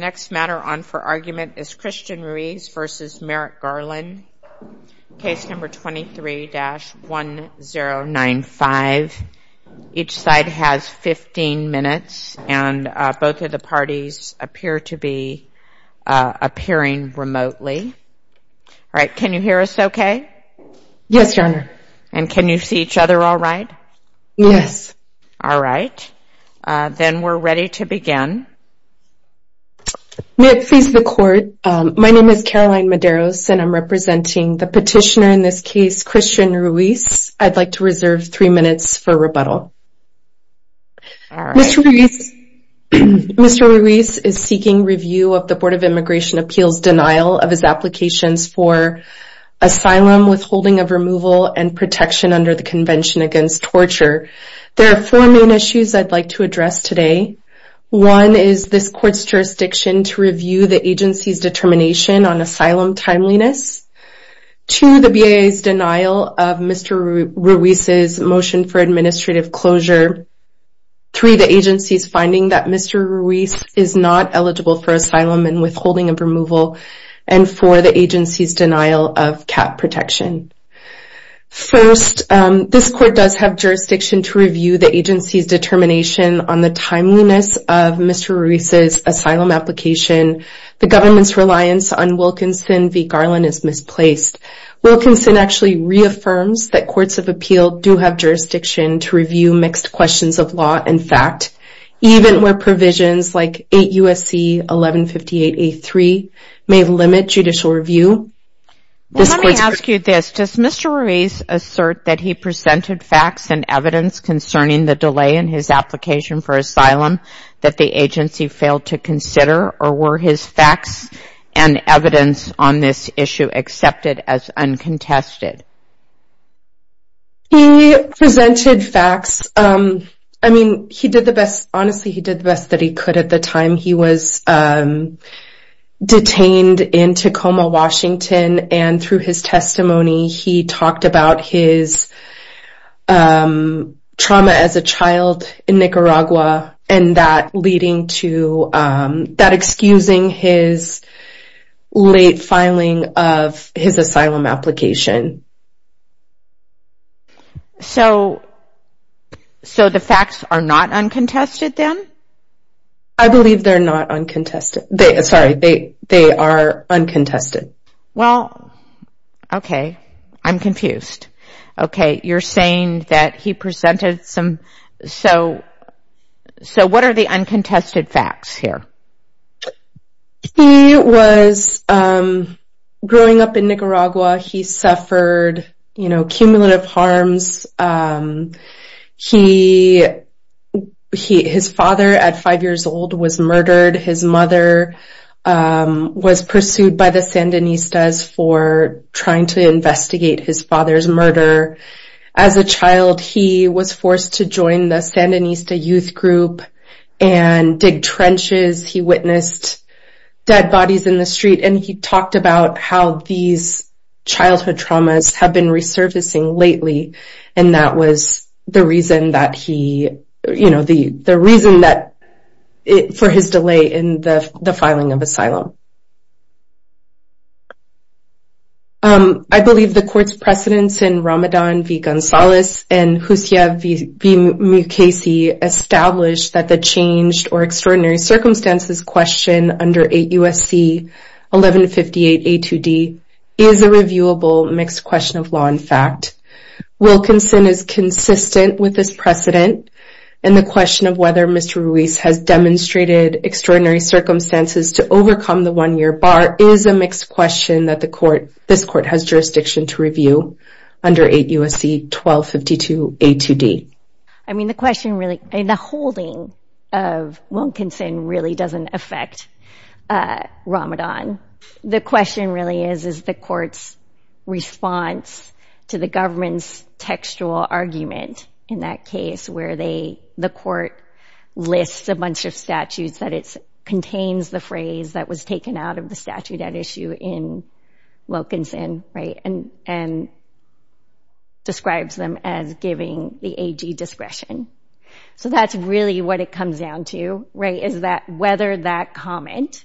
Case 23-1095. Each side has 15 minutes and both of the parties appear to be appearing remotely. Alright, can you hear us okay? Yes, Your Honor. And can you see each other alright? Yes. Alright, then we're ready to begin. May it please the Court, my name is Caroline Medeiros and I'm representing the petitioner in this case, Christian Ruiz. I'd like to reserve three minutes for rebuttal. Mr. Ruiz is seeking review of the Board of Immigration Appeals denial of his applications for asylum, withholding of removal, and protection under the Convention Against Torture. There are four main issues I'd like to address today. One is this Court's jurisdiction to review the agency's determination on asylum timeliness. Two, the BIA's denial of Mr. Ruiz's motion for administrative closure. Three, the agency's finding that Mr. Ruiz is not eligible for asylum and withholding of removal. And four, the agency's denial of CAP protection. First, this Court does have jurisdiction to review the agency's determination on the timeliness of Mr. Ruiz's asylum application. The government's reliance on Wilkinson v. Garland is misplaced. Wilkinson actually reaffirms that Courts of Appeal do have jurisdiction to review mixed questions of law and fact, even where provisions like 8 U.S.C. 1158A3 may limit judicial review. Let me ask you this. Does Mr. Ruiz assert that he presented facts and evidence concerning the delay in his application for asylum that the agency failed to consider? Or were his facts and evidence on this issue accepted as uncontested? He presented facts. I mean, he did the best, honestly, he did the best that he could at the time. He was detained in Tacoma, Washington, and through his testimony, he talked about his trauma as a child in Nicaragua, and that leading to, that excusing his late filing of his asylum application. So the facts are not uncontested then? I believe they're not uncontested. Sorry, they are uncontested. Well, okay, I'm confused. Okay, you're saying that he presented some, so what are the uncontested facts here? He was, growing up in Nicaragua, he suffered cumulative harms. His father, at five years old, was murdered. His mother was pursued by the Sandinistas for trying to investigate his father's murder. As a child, he was forced to join the Sandinista youth group and dig trenches. He witnessed dead bodies in the street, and he talked about how these childhood traumas have been resurfacing lately, and that was the reason that he, you know, the reason that, for his delay in the filing of asylum. I believe the court's precedents in Ramadan v. Gonzalez and Jusia v. Mukasey established that the changed or extraordinary circumstances question under 8 U.S.C. 1158 A2D is a reviewable mixed question of law and fact. Wilkinson is consistent with this precedent, and the question of whether Mr. Ruiz has demonstrated extraordinary circumstances to overcome the one-year bar is a mixed question that this court has jurisdiction to review under 8 U.S.C. 1252 A2D. I mean, the question really, the holding of Wilkinson really doesn't affect Ramadan. The question really is, is the court's response to the government's textual argument in that case, where the court lists a bunch of statutes that it contains the phrase that was taken out of the statute at issue in Wilkinson, right, and describes them as giving the AG discretion. So that's really what it comes down to, right, is that whether that comment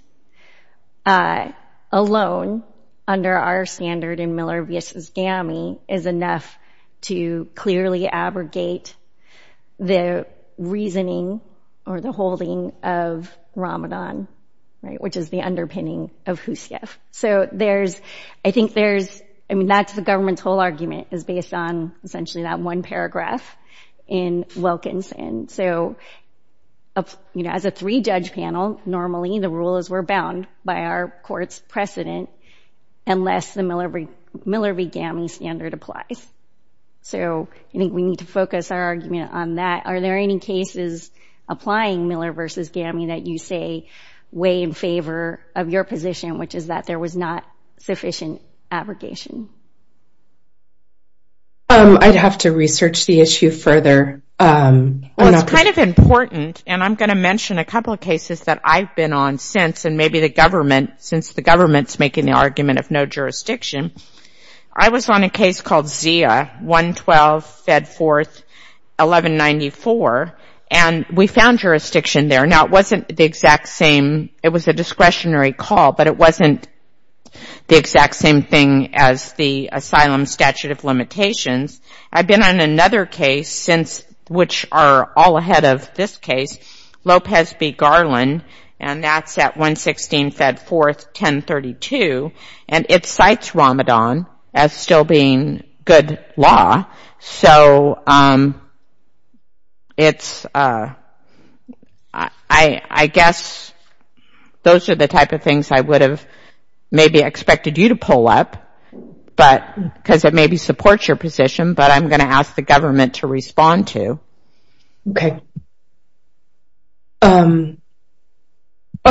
alone, under our standard in Miller v. GAMI, is enough to clearly abrogate the reasoning or the holding of Ramadan, right, which is the underpinning of Jusia. So there's, I think there's, I mean, that's the government's whole argument is based on essentially that one paragraph in Wilkinson. So, you know, as a three-judge panel, normally the rule is we're bound by our court's precedent unless the Miller v. GAMI standard applies. So I think we need to focus our argument on that. Are there any cases applying Miller v. GAMI that you say weigh in favor of your position, which is that there was not sufficient abrogation? I'd have to research the issue further. Well, it's kind of important, and I'm going to mention a couple of cases that I've been on since, and maybe the government, since the government's making the argument of no jurisdiction. I was on a case called Zia, 112, Fed Fourth, 1194, and we found jurisdiction there. Now, it wasn't the exact same, it was a discretionary call, but it wasn't the exact same thing as the asylum statute of limitations. I've been on another case since, which are all ahead of this case, Lopez v. Garland, and that's at 116, Fed Fourth, 1032, and it cites Ramadan as still being good law. So I guess those are the type of things I would have maybe expected you to pull up, because it maybe supports your position, but I'm going to ask the government to respond to. Okay.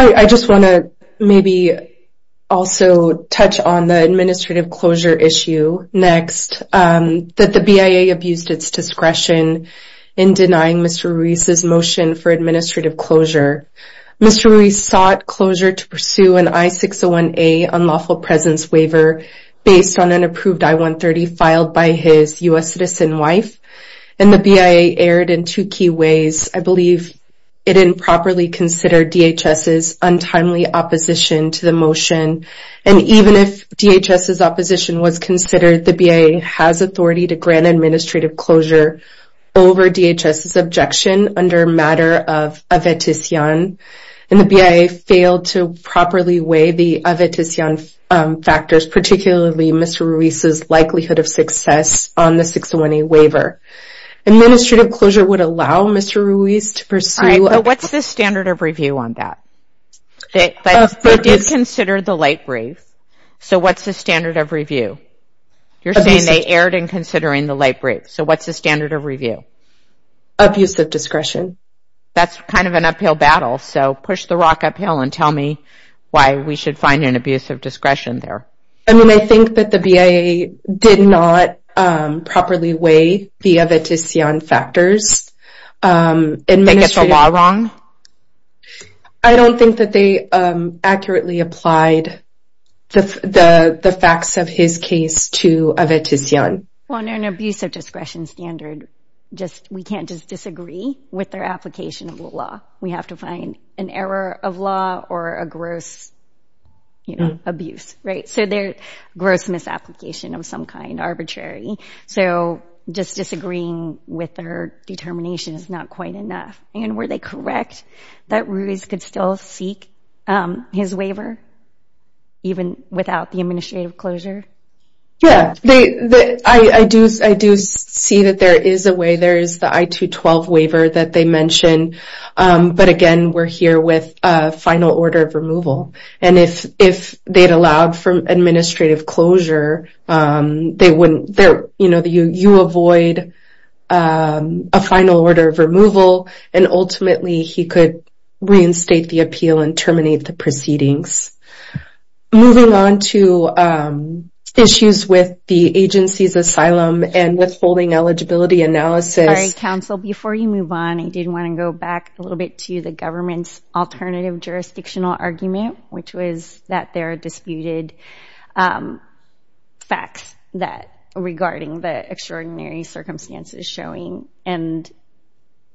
I just want to maybe also touch on the administrative closure issue next, that the BIA abused its discretion in denying Mr. Ruiz's motion for administrative closure. Mr. Ruiz sought closure to pursue an I-601A unlawful presence waiver based on an approved I-130 filed by his U.S. citizen wife, and the BIA erred in two key ways. I believe it improperly considered DHS's untimely opposition to the motion, and even if DHS's opposition was considered, the BIA has authority to grant administrative closure over DHS's objection under a matter of avetision, and the BIA failed to properly weigh the avetision factors, particularly Mr. Ruiz's likelihood of success on the 601A waiver. Administrative closure would allow Mr. Ruiz to pursue... All right, but what's the standard of review on that? They did consider the light brief, so what's the standard of review? You're saying they erred in considering the light brief, so what's the standard of review? Abuse of discretion. That's kind of an uphill battle, so push the rock uphill and tell me why we should find an abuse of discretion there. I mean, I think that the BIA did not properly weigh the avetision factors. They get the law wrong? I don't think that they accurately applied the facts of his case to avetision. On an abuse of discretion standard, we can't just disagree with their application of the law. We have to find an error of law or a gross abuse, so their gross misapplication of some kind, arbitrary, so just disagreeing with their determination is not quite enough, and were they correct that Ruiz could still seek his waiver even without the administrative closure? Yeah, I do see that there is a way. There is the I-212 waiver that they mentioned, but again, we're here with a final order of removal, and if they'd allowed for administrative closure, you avoid a final order of removal, and ultimately he could reinstate the appeal and terminate the proceedings. Moving on to issues with the agency's asylum and withholding eligibility analysis. Sorry, counsel. Before you move on, I did want to go back a little bit to the government's alternative jurisdictional argument, which was that there are disputed facts regarding the extraordinary circumstances showing, and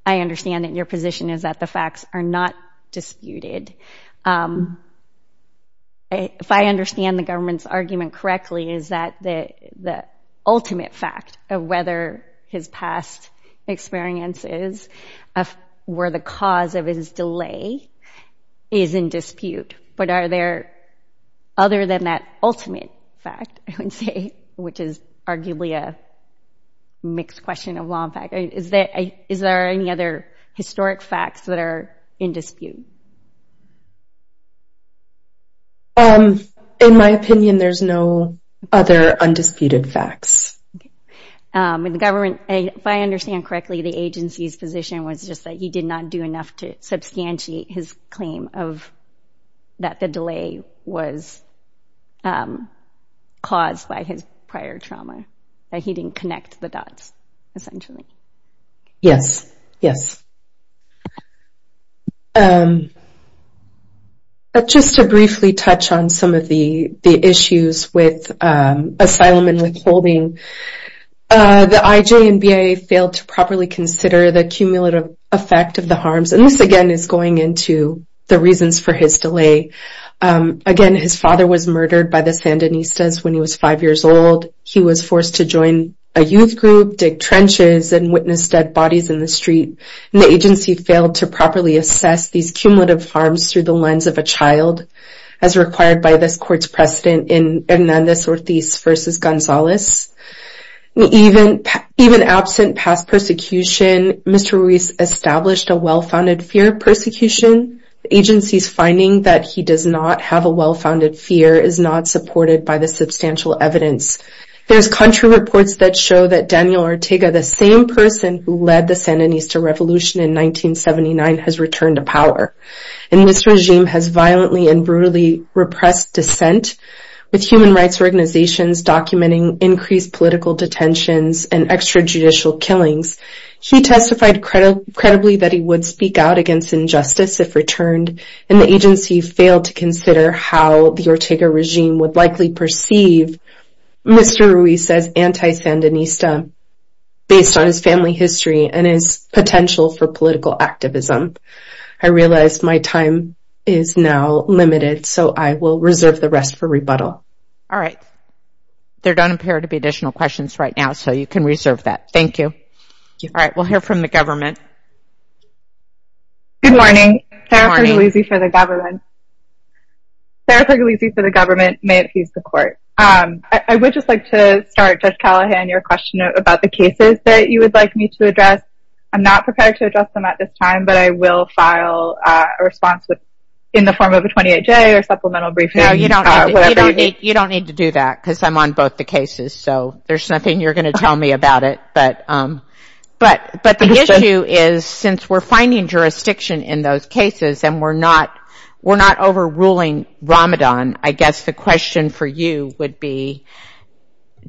I understand that your position is that the facts are not disputed. If I understand the government's argument correctly, is that the ultimate fact of whether his past experiences were the cause of his delay is in dispute, but are there other than that ultimate fact, I would say, which is arguably a mixed question of law and fact. Is there any other historic facts that are in dispute? In my opinion, there's no other undisputed facts. In the government, if I understand correctly, the agency's position was just that he did not do enough to substantiate his claim that the delay was caused by his prior trauma, that he didn't connect the dots, essentially. Yes, yes. Just to briefly touch on some of the issues with asylum and withholding, the IJ and BIA failed to properly consider the cumulative effect of the harms, and this, again, is going into the reasons for his delay. Again, his father was murdered by the Sandinistas when he was five years old. He was forced to join a youth group, dig trenches, and witness dead bodies in the street. The agency failed to properly assess these cumulative harms through the lens of a child, as required by this court's precedent in Hernandez-Ortiz v. Gonzalez. Even absent past persecution, Mr. Ruiz established a well-founded fear of persecution. The agency's finding that he does not have a well-founded fear is not supported by the substantial evidence. There's country reports that show that Daniel Ortega, the same person who led the Sandinista revolution in 1979, has returned to power. And this regime has violently and brutally repressed dissent with human rights organizations documenting increased political detentions and extrajudicial killings. He testified credibly that he would speak out against injustice if returned, and the agency failed to consider how the Ortega regime would likely perceive Mr. Ruiz as anti-Sandinista based on his family history and his potential for political activism. I realize my time is now limited, so I will reserve the rest for rebuttal. All right. There don't appear to be additional questions right now, so you can reserve that. Thank you. All right. We'll hear from the government. Good morning. Good morning. Sarah Puglisi for the government. Sarah Puglisi for the government. May it please the court. I would just like to start, Judge Callahan, your question about the cases that you would like me to address. I'm not prepared to address them at this time, but I will file a response in the form of a 28-day or supplemental briefing. No, you don't need to do that because I'm on both the cases, so there's nothing you're going to tell me about it. But the issue is since we're finding jurisdiction in those cases and we're not overruling Ramadan, I guess the question for you would be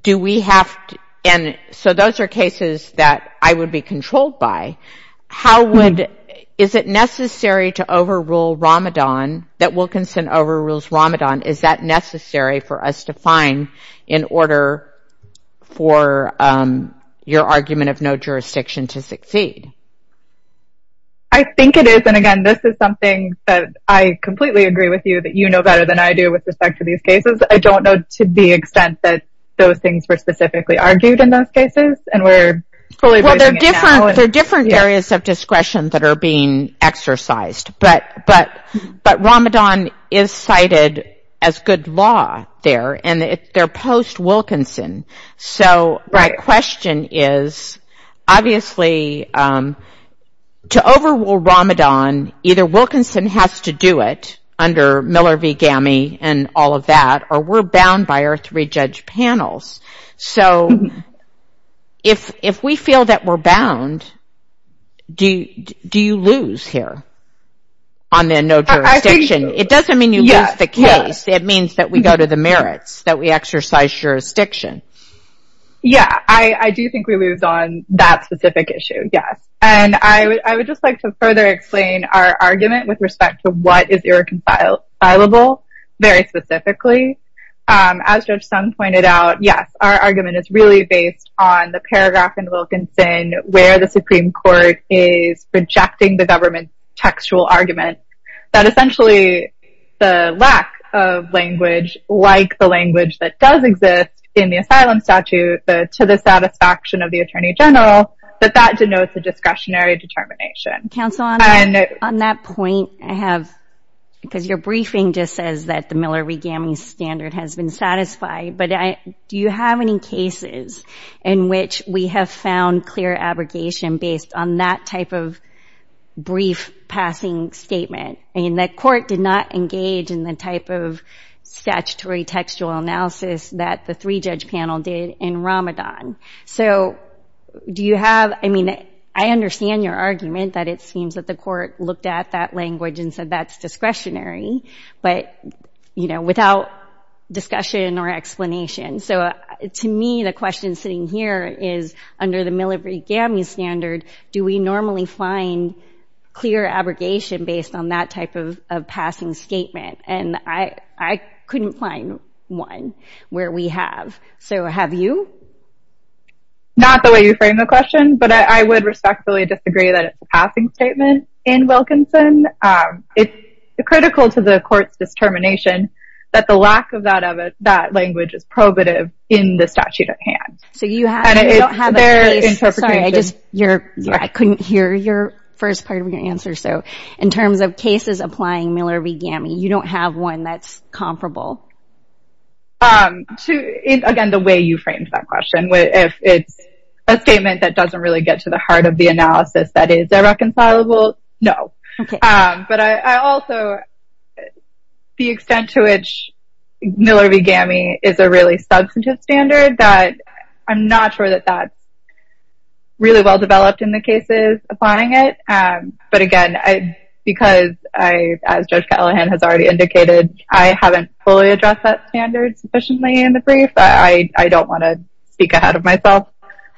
do we have to – so those are cases that I would be controlled by. Is it necessary to overrule Ramadan, that Wilkinson overrules Ramadan? Is that necessary for us to find in order for your argument of no jurisdiction to succeed? I think it is. And, again, this is something that I completely agree with you that you know better than I do with respect to these cases. I don't know to the extent that those things were specifically argued in those cases and we're fully – Well, there are different areas of discretion that are being exercised. But Ramadan is cited as good law there, and they're post-Wilkinson. So my question is obviously to overrule Ramadan, either Wilkinson has to do it under Miller v. GAMI and all of that, or we're bound by our three-judge panels. So if we feel that we're bound, do you lose here on the no jurisdiction? I think so, yes. It doesn't mean you lose the case. It means that we go to the merits, that we exercise jurisdiction. Yeah, I do think we lose on that specific issue, yes. And I would just like to further explain our argument with respect to what is irreconcilable very specifically. As Judge Sun pointed out, yes, our argument is really based on the paragraph in Wilkinson where the Supreme Court is rejecting the government's textual argument that essentially the lack of language like the language that does exist in the asylum statute to the satisfaction of the Attorney General, that that denotes a discretionary determination. Counsel, on that point, I have – because your briefing just says that the Miller v. GAMI standard has been satisfied, but do you have any cases in which we have found clear abrogation based on that type of brief passing statement? I mean, the court did not engage in the type of statutory textual analysis that the three-judge panel did in Ramadan. So do you have – I mean, I understand your argument that it seems that the court looked at that language and said that's discretionary, but, you know, without discussion or explanation. So to me, the question sitting here is, under the Miller v. GAMI standard, do we normally find clear abrogation based on that type of passing statement? And I couldn't find one where we have. So have you? Not the way you framed the question, but I would respectfully disagree that it's a passing statement in Wilkinson. It's critical to the court's determination that the lack of that language is probative in the statute at hand. So you don't have a case – sorry, I just – I couldn't hear your first part of your answer. So in terms of cases applying Miller v. GAMI, you don't have one that's comparable? Again, the way you framed that question. If it's a statement that doesn't really get to the heart of the analysis that is irreconcilable, no. But I also – the extent to which Miller v. GAMI is a really substantive standard, I'm not sure that that's really well-developed in the cases applying it. But again, because I – as Judge Callahan has already indicated, I haven't fully addressed that standard sufficiently in the brief, but I don't want to speak ahead of myself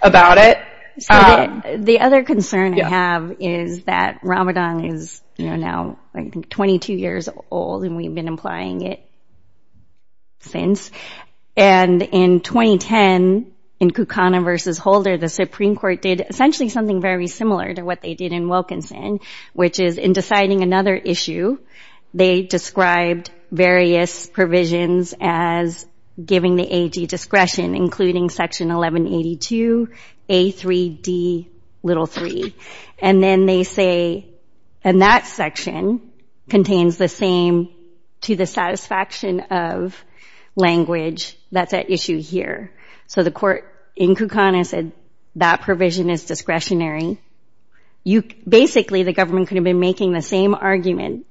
about it. So the other concern I have is that Ramadan is now 22 years old, and we've been applying it since. And in 2010, in Kukana v. Holder, the Supreme Court did essentially something very similar to what they did in Wilkinson, which is in deciding another issue, they described various provisions as giving the AG discretion, including Section 1182A3D3. And then they say, and that section contains the same, to the satisfaction of language, that's at issue here. So the court in Kukana said that provision is discretionary. Basically, the government could have been making the same argument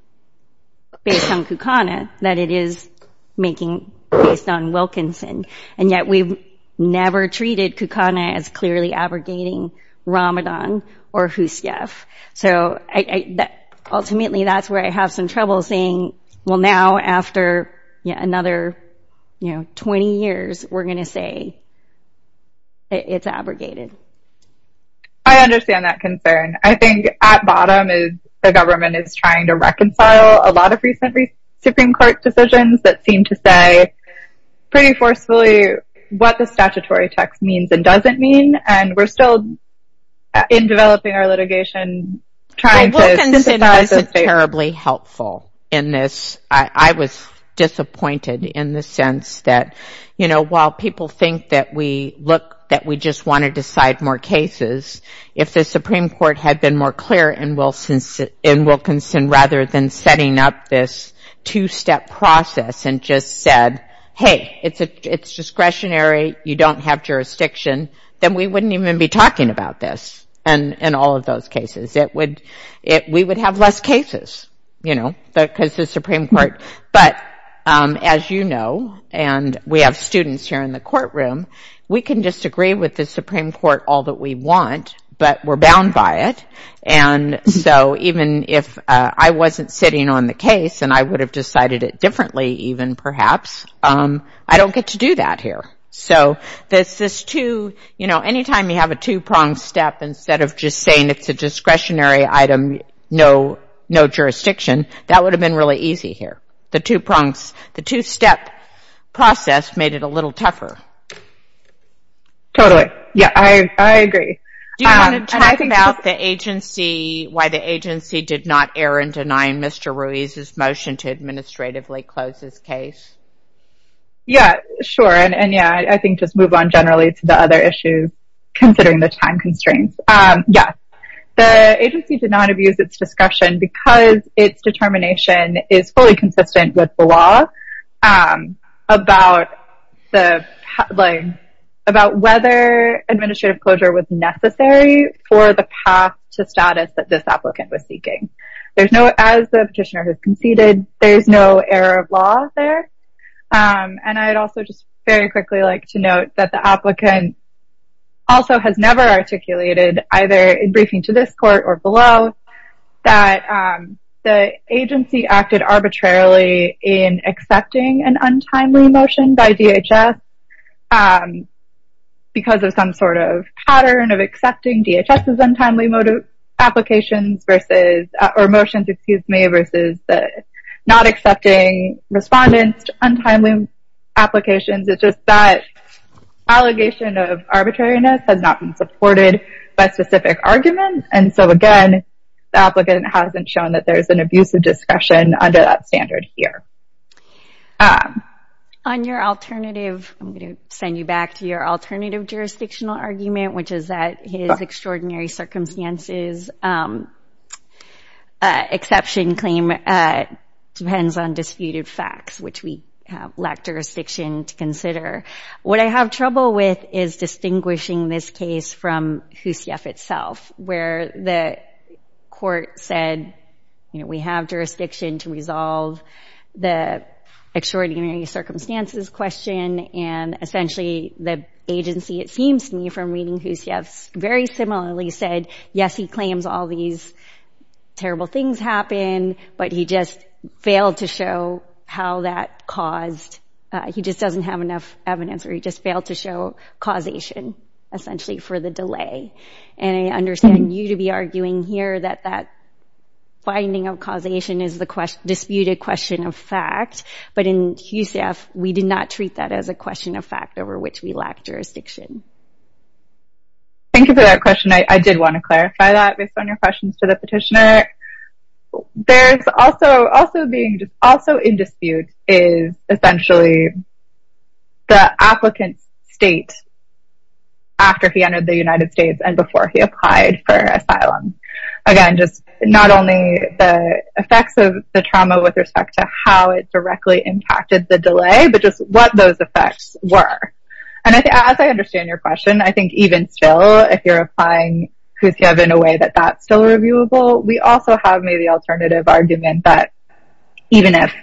based on Kukana that it is making based on Wilkinson. And yet we've never treated Kukana as clearly abrogating Ramadan or Husayf. So ultimately, that's where I have some trouble saying, well, now after another 20 years, we're going to say it's abrogated. I understand that concern. I think at bottom is the government is trying to reconcile a lot of recent Supreme Court decisions that seem to say pretty forcefully what the statutory text means and doesn't mean. And we're still, in developing our litigation, trying to synthesize the state. in this, I was disappointed in the sense that, you know, while people think that we look, that we just want to decide more cases, if the Supreme Court had been more clear in Wilkinson rather than setting up this two-step process and just said, hey, it's discretionary, you don't have jurisdiction, then we wouldn't even be talking about this in all of those cases. We would have less cases, you know, because the Supreme Court. But as you know, and we have students here in the courtroom, we can disagree with the Supreme Court all that we want, but we're bound by it. And so even if I wasn't sitting on the case and I would have decided it differently even perhaps, I don't get to do that here. So there's this two, you know, anytime you have a two-pronged step instead of just saying it's a discretionary item, no jurisdiction, that would have been really easy here. The two-step process made it a little tougher. Totally. Yeah, I agree. Do you want to talk about the agency, why the agency did not err in denying Mr. Ruiz's motion to administratively close his case? Yeah, sure, and yeah, I think just move on generally to the other issues considering the time constraints. Yeah, the agency did not abuse its discretion because its determination is fully consistent with the law about whether administrative closure was necessary for the path to status that this applicant was seeking. As the petitioner has conceded, there's no error of law there. And I'd also just very quickly like to note that the applicant also has never articulated, either in briefing to this court or below, that the agency acted arbitrarily in accepting an untimely motion by DHS because of some sort of pattern of accepting DHS's untimely applications versus, or motions, excuse me, versus not accepting respondents' untimely applications. It's just that allegation of arbitrariness has not been supported by specific arguments. And so, again, the applicant hasn't shown that there's an abuse of discretion under that standard here. On your alternative, I'm going to send you back to your alternative jurisdictional argument, which is that his extraordinary circumstances exception claim depends on disputed facts, which we lack jurisdiction to consider. What I have trouble with is distinguishing this case from HUCF itself, where the court said, you know, we have jurisdiction to resolve the extraordinary circumstances question. And, essentially, the agency, it seems to me, from reading HUCF, very similarly said, yes, he claims all these terrible things happened, but he just failed to show how that caused, he just doesn't have enough evidence, or he just failed to show causation, essentially, for the delay. And I understand you to be arguing here that that finding of causation is the disputed question of fact. But in HUCF, we did not treat that as a question of fact, over which we lack jurisdiction. Thank you for that question. I did want to clarify that, based on your questions to the petitioner. There's also being, also in dispute is, essentially, the applicant's state after he entered the United States and before he applied for asylum. Again, just not only the effects of the trauma with respect to how it directly impacted the delay, but just what those effects were. And as I understand your question, I think even still, if you're applying HUCF in a way that that's still reviewable, we also have, maybe, the alternative argument that even if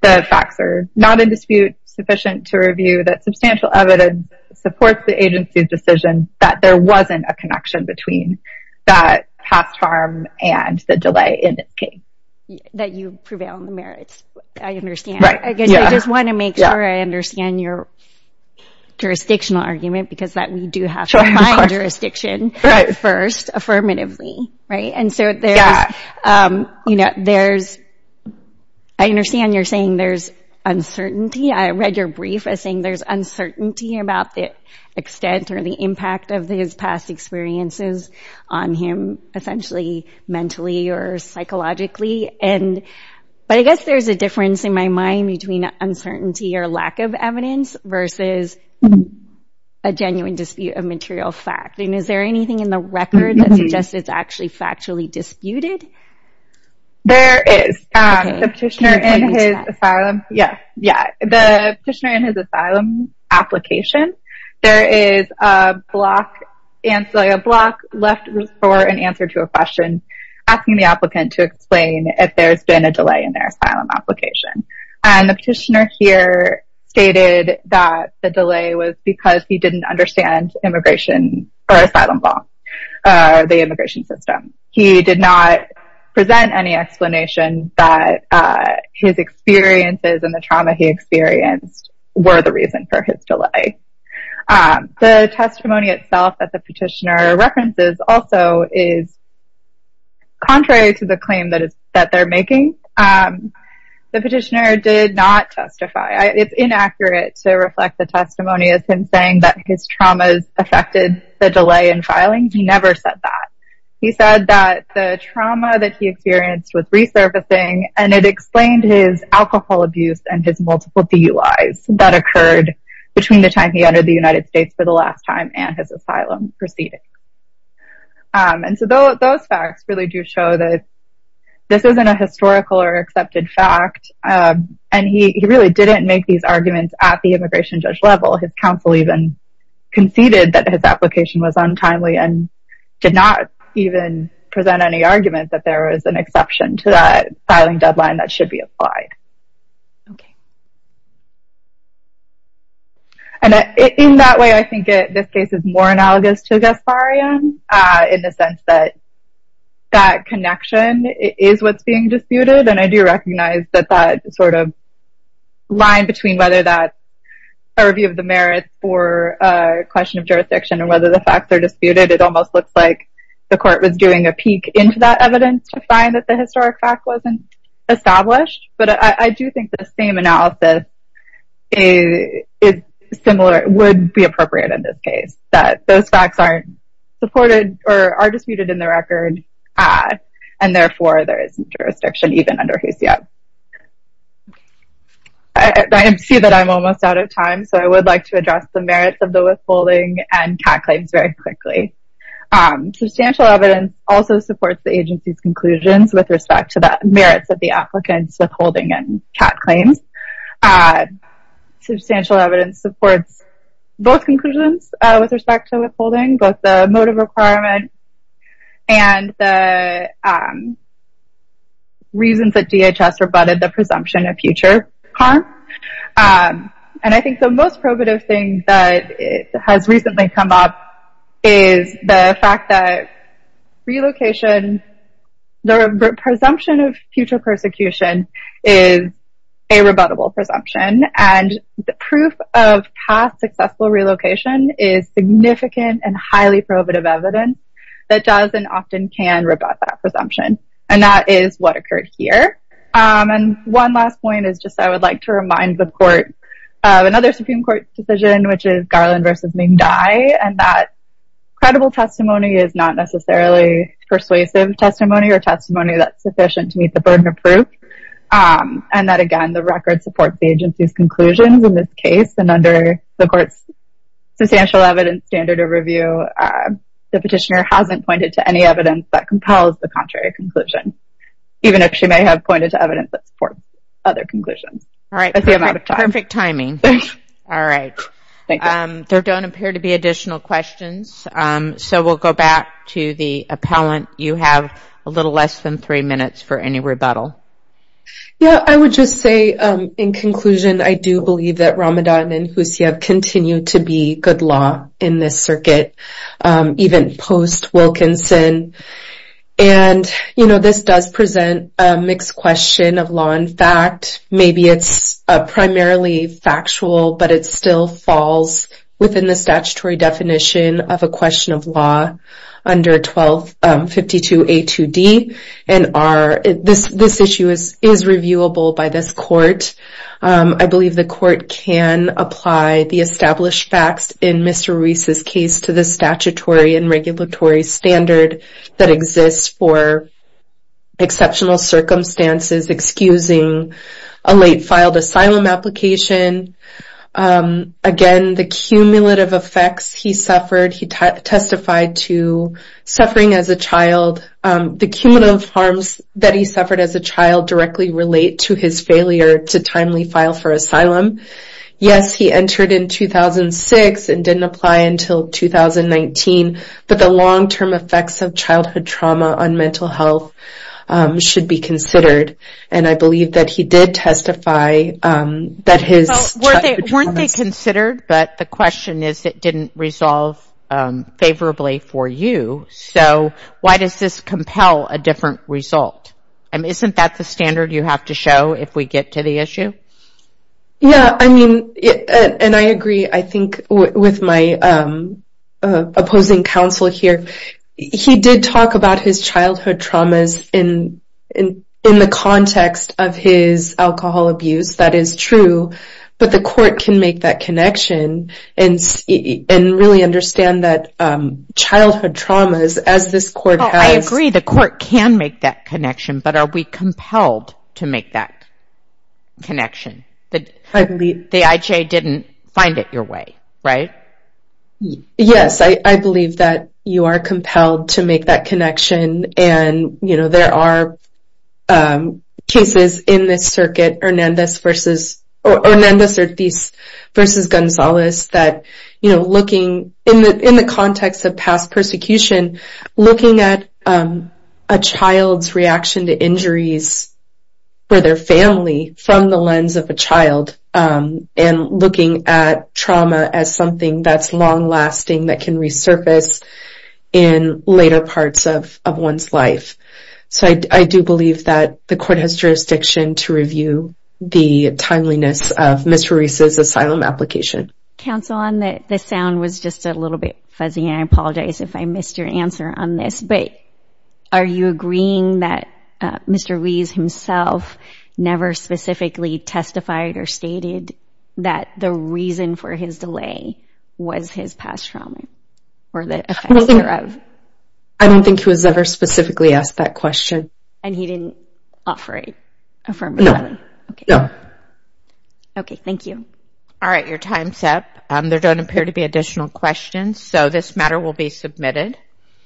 the facts are not in dispute sufficient to review, that substantial evidence supports the agency's decision that there wasn't a connection between that past harm and the delay in its case. That you prevail on the merits, I understand. I just want to make sure I understand your jurisdictional argument, because we do have to find jurisdiction first, affirmatively. And so, I understand you're saying there's uncertainty. I read your brief as saying there's uncertainty about the extent or the impact of these past experiences. on him, essentially, mentally or psychologically. But I guess there's a difference in my mind between uncertainty or lack of evidence versus a genuine dispute of material fact. And is there anything in the record that suggests it's actually factually disputed? There is. The petitioner in his asylum application, there is a block left for an answer to a question asking the applicant to explain if there's been a delay in their asylum application. And the petitioner here stated that the delay was because he didn't understand immigration or asylum law, the immigration system. He did not present any explanation that his experiences and the trauma he experienced were the reason for his delay. The testimony itself that the petitioner references also is contrary to the claim that they're making. The petitioner did not testify. It's inaccurate to reflect the testimony as him saying that his traumas affected the delay in filing. He never said that. He said that the trauma that he experienced was resurfacing, and it explained his alcohol abuse and his multiple DUIs that occurred between the time he entered the United States for the last time and his asylum proceedings. And so those facts really do show that this isn't a historical or accepted fact. And he really didn't make these arguments at the immigration judge level. His counsel even conceded that his application was untimely and did not even present any argument that there was an exception to that filing deadline that should be applied. And in that way, I think this case is more analogous to Gasparian in the sense that that connection is what's being disputed, and I do recognize that that sort of line between whether that's a review of the merits for a question of jurisdiction and whether the facts are disputed, it almost looks like the court was doing a peek into that evidence to find that the historic fact wasn't established. But I do think the same analysis would be appropriate in this case, that those facts aren't supported or are disputed in the record, and therefore there isn't jurisdiction even under HUSIAB. I see that I'm almost out of time, so I would like to address the merits of the withholding and CAT claims very quickly. Substantial evidence also supports the agency's conclusions with respect to the merits of the applicant's withholding and CAT claims. Substantial evidence supports both conclusions with respect to withholding, both the motive requirement and the reasons that DHS rebutted the presumption of future harm. And I think the most probative thing that has recently come up is the fact that the presumption of future persecution is a rebuttable presumption, and the proof of past successful relocation is significant and highly probative evidence that does and often can rebut that presumption, and that is what occurred here. And one last point is just I would like to remind the court of another Supreme Court decision, which is Garland v. Ming Dai, and that credible testimony is not necessarily persuasive testimony or testimony that's sufficient to meet the burden of proof, and that, again, the record supports the agency's conclusions in this case, and under the court's substantial evidence standard of review, the petitioner hasn't pointed to any evidence that compels the contrary conclusion, even if she may have pointed to evidence that supports other conclusions. That's the amount of time. Perfect timing. All right. Thank you. There don't appear to be additional questions, so we'll go back to the appellant. You have a little less than three minutes for any rebuttal. Yeah, I would just say in conclusion I do believe that Ramadan and Husayev continue to be good law in this circuit, even post-Wilkinson, and, you know, this does present a mixed question of law and fact. Maybe it's primarily factual, but it still falls within the statutory definition of a question of law under 1252A2D, and this issue is reviewable by this court. I believe the court can apply the established facts in Mr. Ruiz's case to the statutory and regulatory standard that exists for exceptional circumstances, excusing a late-filed asylum application. Again, the cumulative effects he suffered, he testified to suffering as a child. The cumulative harms that he suffered as a child directly relate to his failure to timely file for asylum. Yes, he entered in 2006 and didn't apply until 2019, but the long-term effects of childhood trauma on mental health should be considered, and I believe that he did testify that his childhood trauma... Weren't they considered, but the question is it didn't resolve favorably for you, so why does this compel a different result? Isn't that the standard you have to show if we get to the issue? Yeah, I mean, and I agree, I think, with my opposing counsel here. He did talk about his childhood traumas in the context of his alcohol abuse. That is true, but the court can make that connection and really understand that childhood traumas, as this court has... I agree the court can make that connection, but are we compelled to make that connection? The IJ didn't find it your way, right? Yes, I believe that you are compelled to make that connection, and there are cases in this circuit, Hernandez v. Ortiz v. Gonzalez, that, you know, looking in the context of past persecution, looking at a child's reaction to injuries for their family from the lens of a child and looking at trauma as something that's long-lasting, that can resurface in later parts of one's life. So I do believe that the court has jurisdiction to review the timeliness of Ms. Ruiz's asylum application. Counsel, the sound was just a little bit fuzzy, and I apologize if I missed your answer on this, but are you agreeing that Mr. Ruiz himself never specifically testified or stated that the reason for his delay was his past trauma or the effects thereof? I don't think he was ever specifically asked that question. And he didn't offer a affirmative answer? Okay, thank you. All right, your time's up. There don't appear to be additional questions, so this matter will be submitted.